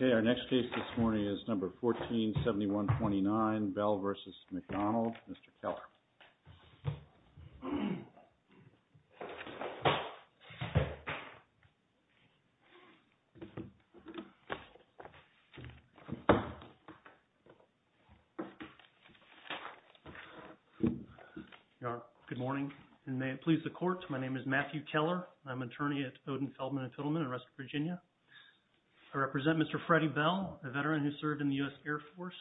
Okay, our next case this morning is number 147129, Bell v. McDonough. Mr. Keller. Good morning, and may it please the court, my name is Matthew Keller, I'm an attorney at Odin, Feldman & Tittleman in Russell, Virginia. I represent Mr. Freddie Bell, a veteran who served in the U.S. Air Force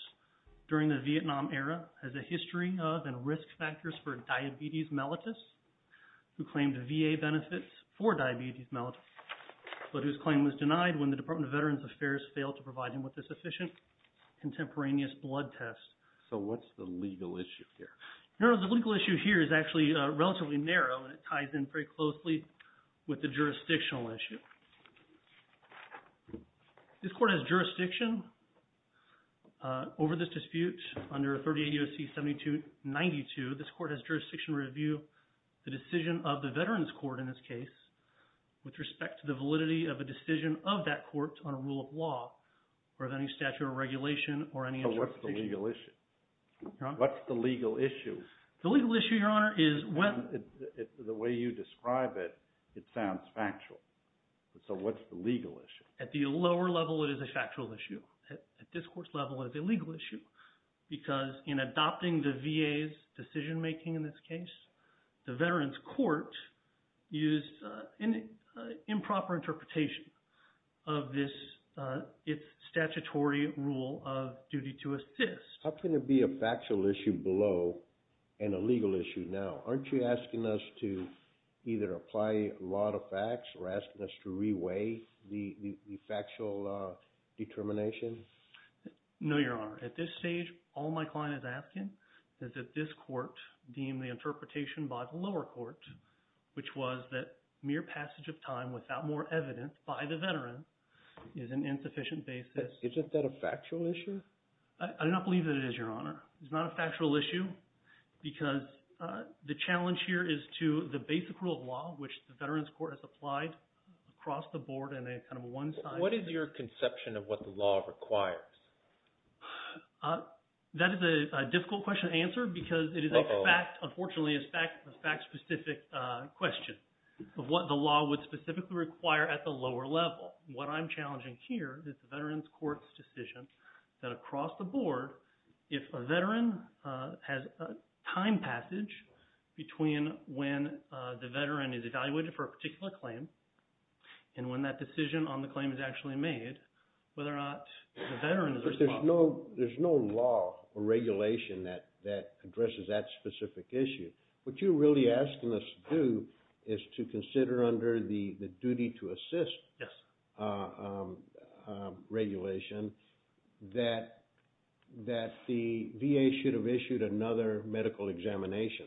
during the Vietnam era, has a history of and risk factors for diabetes mellitus, who claimed VA benefits for diabetes mellitus, but whose claim was denied when the Department of Veterans Affairs failed to provide him with a sufficient contemporaneous blood test. So what's the legal issue here? No, the legal issue here is actually relatively narrow, and it ties in very closely with the jurisdictional issue. This court has jurisdiction over this dispute under 38 U.S.C. 7292, this court has jurisdiction to review the decision of the veterans court in this case, with respect to the validity of a decision of that court on a rule of law, or of any statute of regulation, or any jurisdiction. So what's the legal issue? Your Honor? What's the legal issue? The legal issue, Your Honor, is when... The way you describe it, it sounds factual. So what's the legal issue? At the lower level, it is a factual issue. At this court's level, it's a legal issue, because in adopting the VA's decision-making in this case, the veterans court used an improper interpretation of this statutory rule of duty to assist. How can there be a factual issue below, and a legal issue now? Aren't you asking us to either apply a lot of facts, or asking us to re-weigh the factual determination? No, Your Honor. At this stage, all my client is asking is that this court deem the interpretation by the lower court, which was that mere passage of time without more evidence by the veteran, is an insufficient basis... Isn't that a factual issue? I do not believe that it is, Your Honor. It's not a factual issue, because the challenge here is to the basic rule of law, which the veterans court has applied across the board in a kind of a one-size-fits-all... What is your conception of what the law requires? That is a difficult question to answer, because it is a fact, unfortunately, it's a fact-specific question of what the law would specifically require at the lower level. What I'm challenging here is the veterans court's decision that across the board, if a veteran has a time passage between when the veteran is evaluated for a particular claim, and when that decision on the claim is actually made, whether or not the veteran is responsible... But there's no law or regulation that addresses that specific issue. What you're really asking us to do is to consider under the duty to assist... Yes.... regulation that the VA should have issued another medical examination,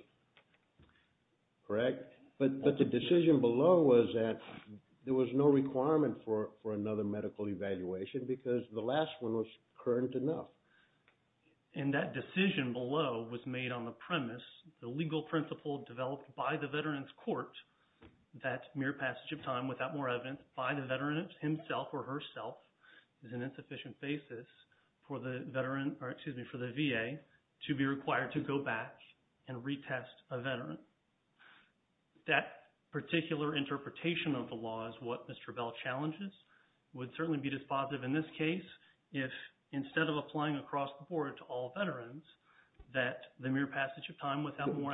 correct? But the decision below was that there was no requirement for another medical evaluation, because the last one was current enough. And that decision below was made on the premise, the legal principle developed by the veterans court, that mere passage of time without more evidence by the veteran himself or herself is an insufficient basis for the VA to be required to go back and retest a veteran. That particular interpretation of the law is what Mr. Bell challenges, would certainly be dispositive in this case, if instead of applying across the board to all veterans, I'm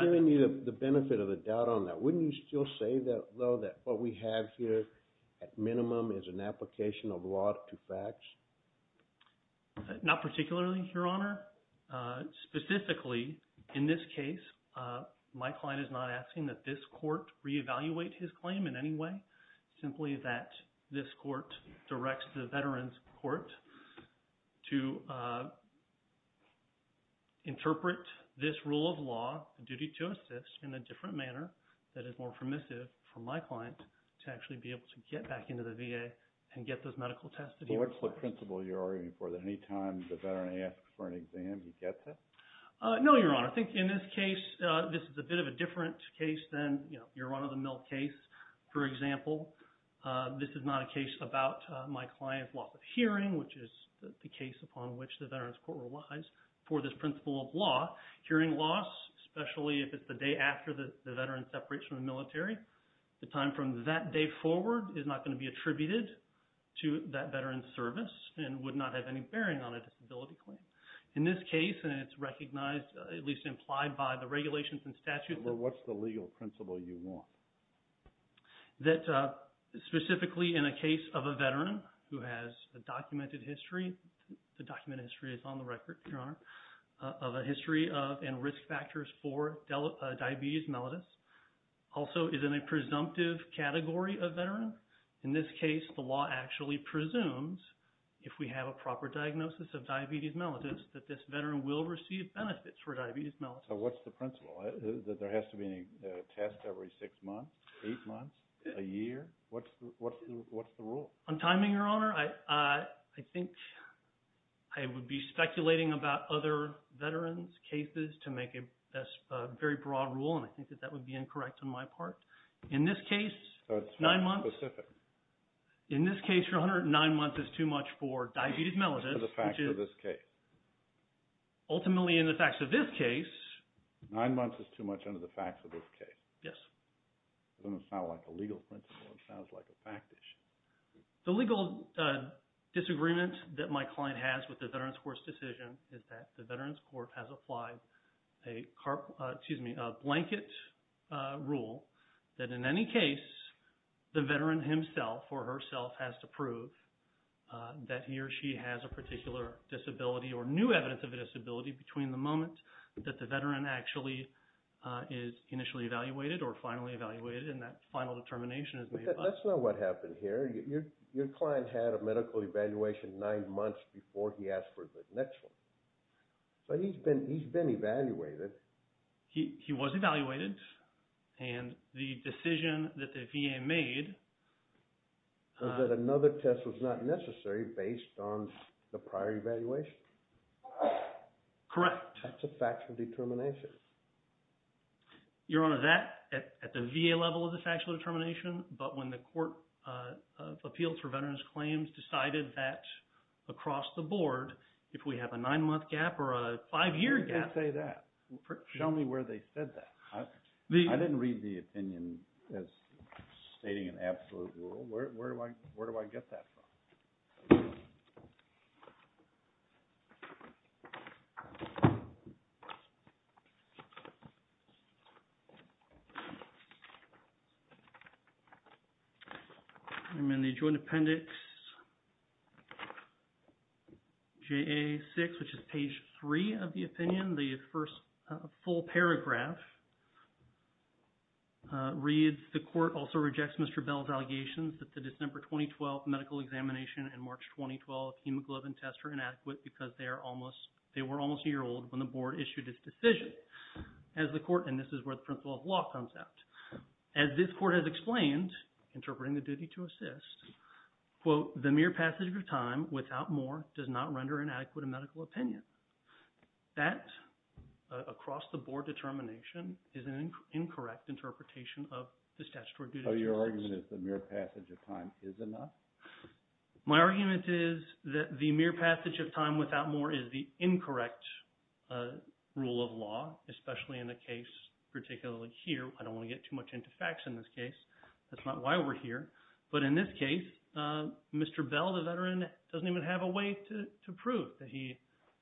hearing you the benefit of the doubt on that. Wouldn't you still say though that what we have here, at minimum, is an application of law to facts? Not particularly, Your Honor. Specifically, in this case, my client is not asking that this court reevaluate his claim in any way, simply that this court directs the veterans court to interpret this rule of law, the duty to assist, in a different manner that is more permissive for my client to actually be able to get back into the VA and get those medical tests that he requires. So what's the principle you're arguing for, that any time the veteran asks for an exam, he gets it? No, Your Honor. I think in this case, this is a bit of a different case than, you know, your run-of-the-mill case. For example, this is not a case about my client's loss of hearing, which is the case upon which the veterans court relies for this principle of law. Hearing loss, especially if it's the day after the veteran separates from the military, the time from that day forward is not going to be attributed to that veteran's service and would not have any bearing on a disability claim. In this case, and it's recognized, at least implied by the regulations and statutes that... But what's the legal principle you want? That specifically in a case of a veteran who has a documented history, the documented history is on the record, Your Honor, of a history of and risk factors for diabetes mellitus, also is in a presumptive category of veteran? In this case, the law actually presumes, if we have a proper diagnosis of diabetes mellitus, that this veteran will receive benefits for diabetes mellitus. So what's the principle? That there has to be a test every six months, eight months, a year? What's the rule? On timing, Your Honor, I think I would be speculating about other veterans' cases to make a very broad rule, and I think that that would be incorrect on my part. In this case, nine months... So it's fact-specific? In this case, Your Honor, nine months is too much for diabetes mellitus, which is... For the facts of this case? Ultimately, in the facts of this case... Nine months is too much under the facts of this case? Yes. It doesn't sound like a legal principle, it sounds like a fact issue. The legal disagreement that my client has with the Veterans' Court's decision is that the Veterans' Court has applied a blanket rule that in any case, the veteran himself or herself has to prove that he or she has a particular disability or new evidence of the disability that he or she has. And that final determination is made by the... But that's not what happened here. Your client had a medical evaluation nine months before he asked for the next one. But he's been evaluated. He was evaluated, and the decision that the VA made... Is that another test was not necessary based on the prior evaluation? Correct. That's a factual determination. Your Honor, that, at the VA level, is a factual determination. But when the Court of Appeals for Veterans' Claims decided that across the board, if we have a nine-month gap or a five-year gap... Who would say that? Show me where they said that. I didn't read the opinion as stating an absolute rule. Where do I get that from? I'm in the Joint Appendix JA-6, which is page 3 of the opinion. The first full paragraph reads, the court also rejects Mr. Bell's allegations that the December 2012 medical examination and March 2012 hemoglobin test were inadequate because they were almost a year old when the board issued its decision. And this is where the principle of law comes out. As this court has explained, interpreting the duty to assist, quote, the mere passage of time without more does not render inadequate a medical opinion. That, across the board determination, is an incorrect interpretation of the statutory duty to assist. So your argument is the mere passage of time is enough? My argument is that the mere passage of time without more is the incorrect rule of law, especially in the case, particularly here. I don't want to get too much into facts in this case. That's not why we're here. But in this case, Mr. Bell, the veteran, doesn't even have a way to prove that he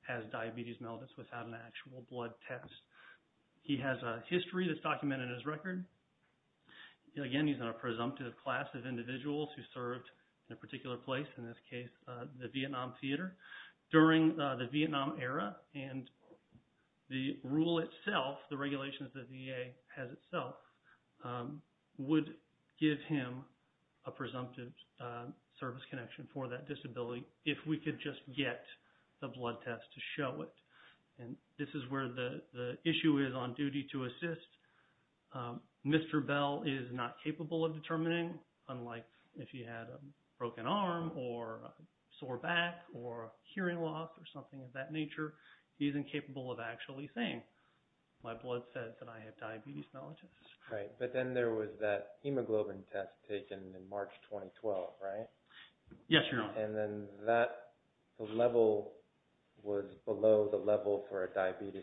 has diabetes mellitus without an actual blood test. He has a history that's documented in his record. Again, he's in a presumptive class of individuals who served in a particular place, in this case, the Vietnam Theater. During the Vietnam era and the rule itself, the regulations the VA has itself, would give him a presumptive service connection for that disability if we could just get the blood test to show it. And this is where the issue is on duty to assist. Mr. Bell is not capable of determining, unlike if he had a broken arm or a sore back or hearing loss or something of that nature. He isn't capable of actually saying, my blood says that I have diabetes mellitus. Right. But then there was that hemoglobin test taken in March 2012, right? Yes, Your Honor. And then that level was below the level for a diabetes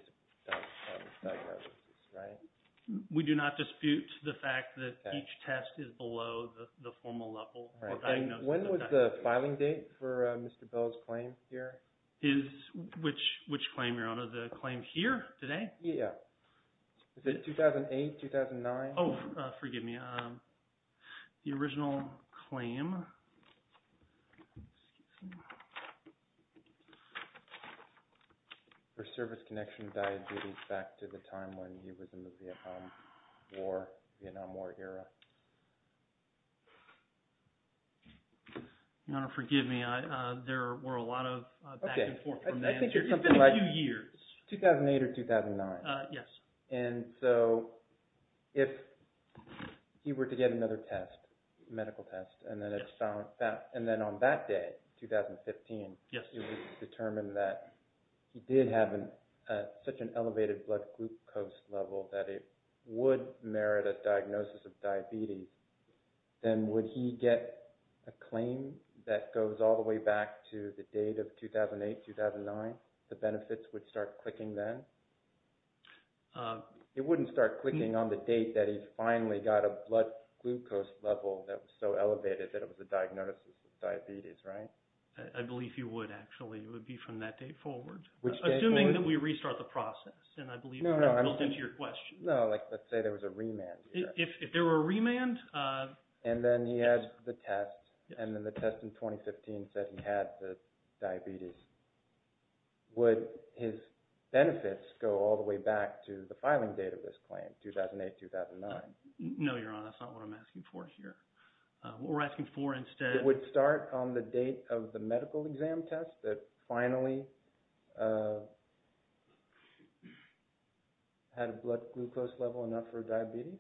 diagnosis, right? We do not dispute the fact that each test is below the formal level. When was the filing date for Mr. Bell's claim here? Which claim, Your Honor? The claim here today? Yeah. Is it 2008, 2009? Oh, forgive me. The original claim. For service connection diabetes back to the time when he was in the Vietnam War era. Your Honor, forgive me. There were a lot of back and forth from the answer. It's been a few years. 2008 or 2009? Yes. And so if he were to get another test, medical test, and then on that day, 2015, it was determined that he did have such an elevated blood glucose level that it would merit a diagnosis of diabetes. Then would he get a claim that goes all the way back to the date of 2008, 2009? The benefits would start clicking then? It wouldn't start clicking on the date that he finally got a blood glucose level that was so elevated that it was a diagnosis of diabetes, right? I believe he would, actually. It would be from that date forward. Assuming that we restart the process, and I believe that's built into your question. No, let's say there was a remand. If there were a remand? And then he had the test, and then the test in 2015 said he had the diabetes. Would his benefits go all the way back to the filing date of this claim, 2008, 2009? No, Your Honor. That's not what I'm asking for here. What we're asking for instead— It would start on the date of the medical exam test that finally had a blood glucose level enough for diabetes?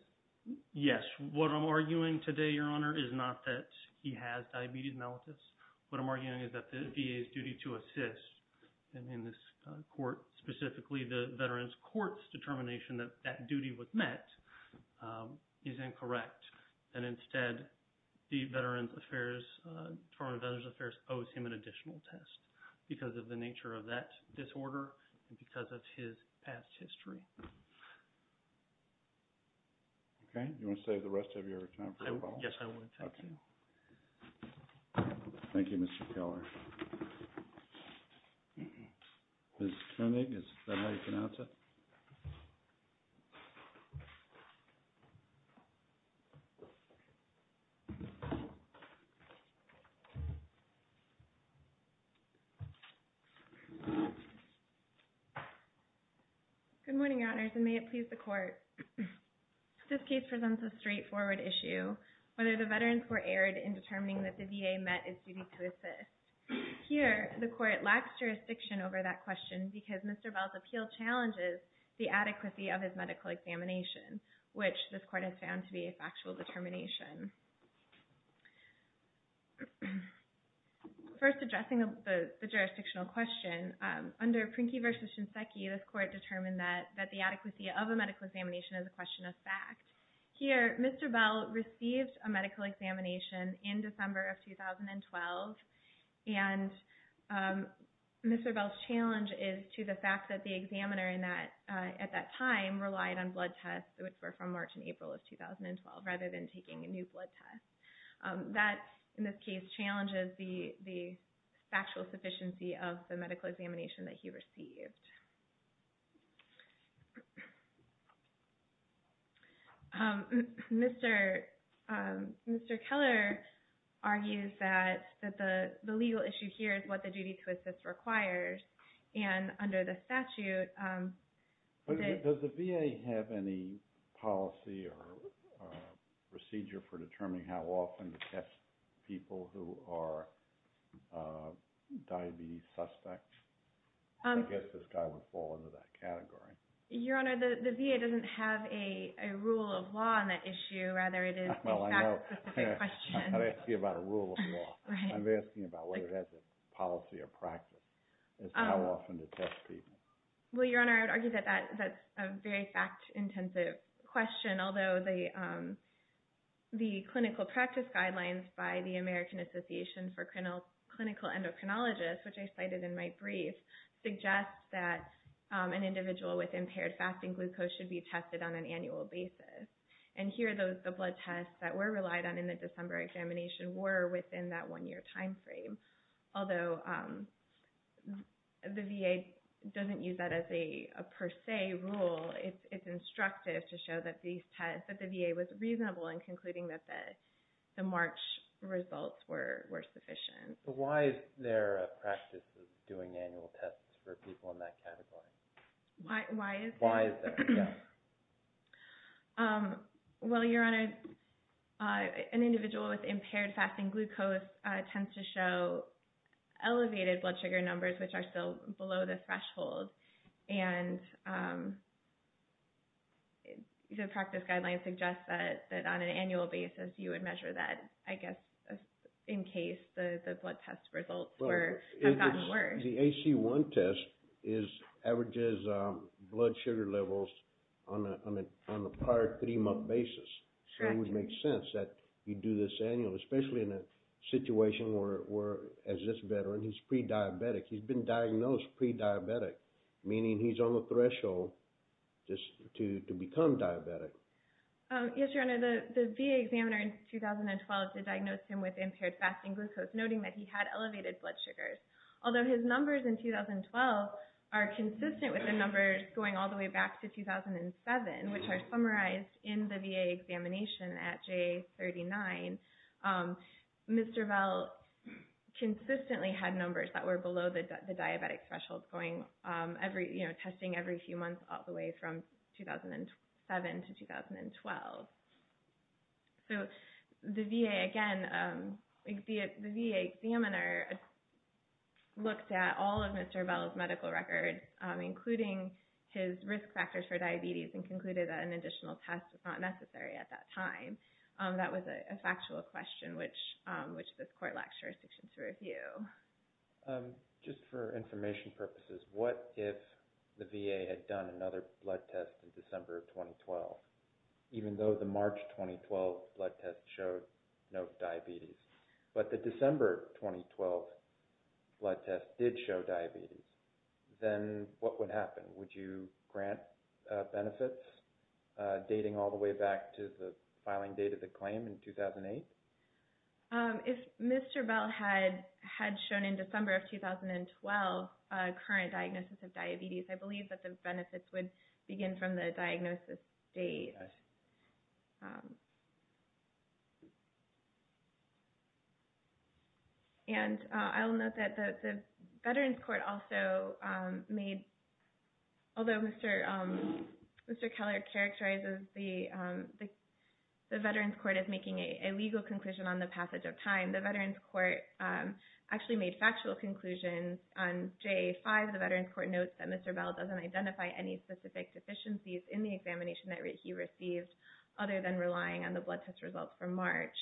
Yes. What I'm arguing today, Your Honor, is not that he has diabetes mellitus. What I'm arguing is that the VA's duty to assist, and in this court specifically, the Veterans Court's determination that that duty was met, is incorrect. And instead, the Department of Veterans Affairs owes him an additional test because of the nature of that disorder and because of his past history. Okay. Do you want to save the rest of your time for your follow-up? Yes, I would. Thank you. Thank you, Mr. Keller. Ms. Koenig, is that how you pronounce it? Good morning, Your Honors, and may it please the Court. This case presents a straightforward issue. Whether the Veterans Court erred in determining that the VA met its duty to assist. Here, the Court lacks jurisdiction over that question because Mr. Bell's appeal challenges the adequacy of his medical examination, which this Court has found to be a factual determination. First, addressing the jurisdictional question, under Prinky v. Shinseki, this Court determined that the adequacy of a medical examination is a question of fact. Here, Mr. Bell received a medical examination in December of 2012, and Mr. Bell's challenge is to the fact that the examiner at that time relied on blood tests, which were from March and April of 2012, rather than taking a new blood test. That, in this case, challenges the factual sufficiency of the medical examination that he received. Mr. Keller argues that the legal issue here is what the duty to assist requires, and under the statute... Does the VA have any policy or procedure for determining how often to test people who are diabetes suspects? I guess this guy would fall into that category. Your Honor, the VA doesn't have a rule of law on that issue. Rather, it is a fact-specific question. I'm not asking about a rule of law. I'm asking about whether it has a policy or practice as to how often to test people. Well, Your Honor, I would argue that that's a very fact-intensive question, although the clinical practice guidelines by the American Association for Clinical Endocrinologists, which I cited in my brief, suggest that an individual with impaired fasting glucose should be tested on an annual basis. And here, the blood tests that were relied on in the December examination were within that one-year time frame. Although the VA doesn't use that as a per se rule, it's instructive to show that the VA was reasonable in concluding that the March results were sufficient. But why is there a practice of doing annual tests for people in that category? Why is there? Well, Your Honor, an individual with impaired fasting glucose tends to show elevated blood sugar numbers, which are still below the threshold. And the practice guidelines suggest that on an annual basis you would measure that, I guess, in case the blood test results have gotten worse. The AC-1 test averages blood sugar levels on a prior three-month basis. So it would make sense that you do this annually, especially in a situation where, as this veteran, he's pre-diabetic. He's been diagnosed pre-diabetic, meaning he's on the threshold to become diabetic. Yes, Your Honor, the VA examiner in 2012 did diagnose him with impaired fasting glucose, noting that he had elevated blood sugars. Although his numbers in 2012 are consistent with the numbers going all the way back to 2007, which are summarized in the VA examination at J39, Mr. Bell consistently had numbers that were below the diabetic threshold, testing every few months all the way from 2007 to 2012. So the VA examiner looked at all of Mr. Bell's medical records, including his risk factors for diabetes, and concluded that an additional test was not necessary at that time. That was a factual question, which this Court lacks jurisdictions to review. Just for information purposes, what if the VA had done another blood test in December of 2012, even though the March 2012 blood test showed no diabetes? But the December 2012 blood test did show diabetes. Then what would happen? Would you grant benefits dating all the way back to the filing date of the claim in 2008? If Mr. Bell had shown in December of 2012 a current diagnosis of diabetes, I believe that the benefits would begin from the diagnosis date. Thank you, guys. I'll note that the Veterans Court also made – although Mr. Keller characterizes the Veterans Court as making a legal conclusion on the passage of time, the Veterans Court actually made factual conclusions. On JA-5, the Veterans Court notes that Mr. Bell doesn't identify any specific deficiencies in the examination that he received, other than relying on the blood test results from March.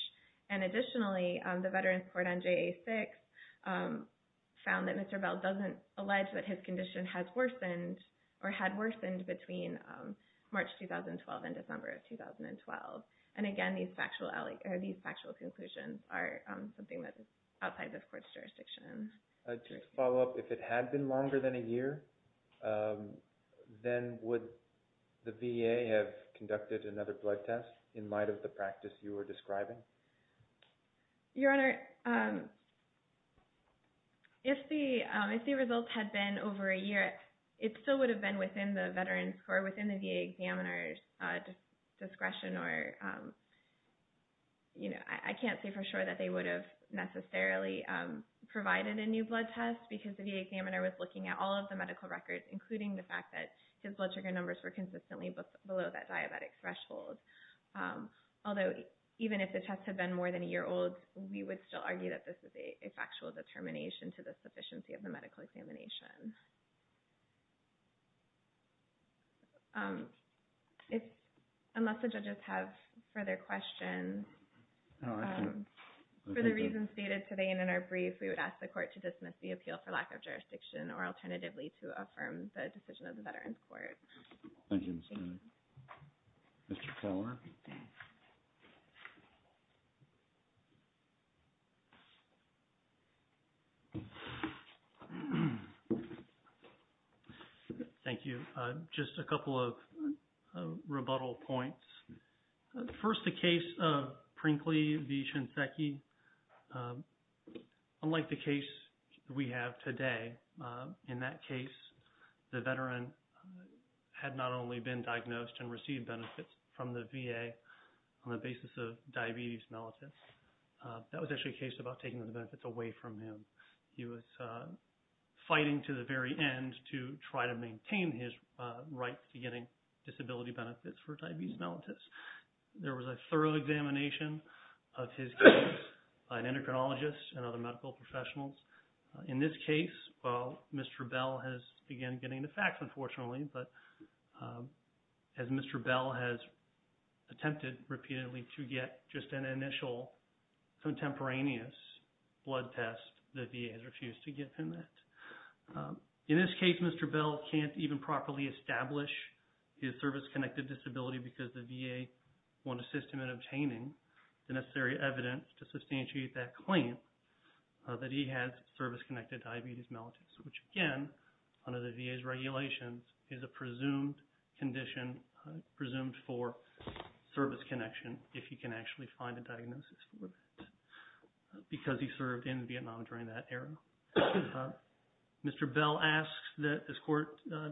Additionally, the Veterans Court on JA-6 found that Mr. Bell doesn't allege that his condition had worsened between March 2012 and December of 2012. Again, these factual conclusions are something that is outside this Court's jurisdiction. To follow up, if it had been longer than a year, then would the VA have conducted another blood test in light of the practice you were describing? Your Honor, if the results had been over a year, it still would have been within the Veterans Court, within the VA examiner's discretion. I can't say for sure that they would have necessarily provided a new blood test because the VA examiner was looking at all of the medical records, including the fact that his blood sugar numbers were consistently below that diabetic threshold. Although, even if the tests had been more than a year old, we would still argue that this is a factual determination to the sufficiency of the medical examination. Unless the judges have further questions, for the reasons stated today and in our brief, we would ask the Court to dismiss the appeal for lack of jurisdiction or alternatively to affirm the decision of the Veterans Court. Thank you, Ms. Kline. Mr. Klower? Mr. Klower? Thank you. Just a couple of rebuttal points. First, the case of Prinkley v. Shinseki, unlike the case we have today, in that case, the veteran had not only been diagnosed and received benefits from the VA on the basis of diabetes mellitus. That was actually a case about taking the benefits away from him. He was fighting to the very end to try to maintain his right to getting disability benefits for diabetes mellitus. There was a thorough examination of his case by an endocrinologist and other medical professionals. In this case, while Mr. Bell has begun getting the facts, unfortunately, but as Mr. Bell has attempted repeatedly to get just an initial contemporaneous blood test, the VA has refused to give him that. In this case, Mr. Bell can't even properly establish his service-connected disability because the VA won't assist him in obtaining the necessary evidence to substantiate that claim that he has service-connected diabetes mellitus, which, again, under the VA's regulations is a presumed condition, presumed for service connection, if he can actually find a diagnosis for it because he served in Vietnam during that era. Mr. Bell asks that this court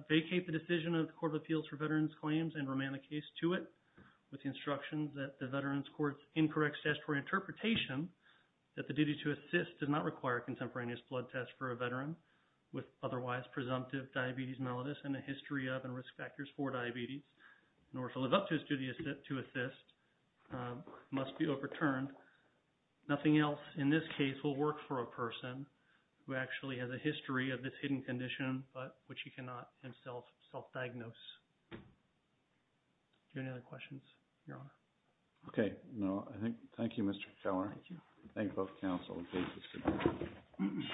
vacate the decision of the Court of Appeals for Veterans Claims and remand the case to it with instructions that the Veterans Court's incorrect statutory interpretation that the duty to assist does not require a contemporaneous blood test for a veteran with otherwise presumptive diabetes mellitus and a history of and risk factors for diabetes, nor to live up to his duty to assist, must be overturned. Nothing else in this case will work for a person who actually has a history of this hidden condition, but which he cannot himself self-diagnose. Do you have any other questions, Your Honor? Okay. No. Thank you, Mr. Keller. Thank you. Thank both counsel.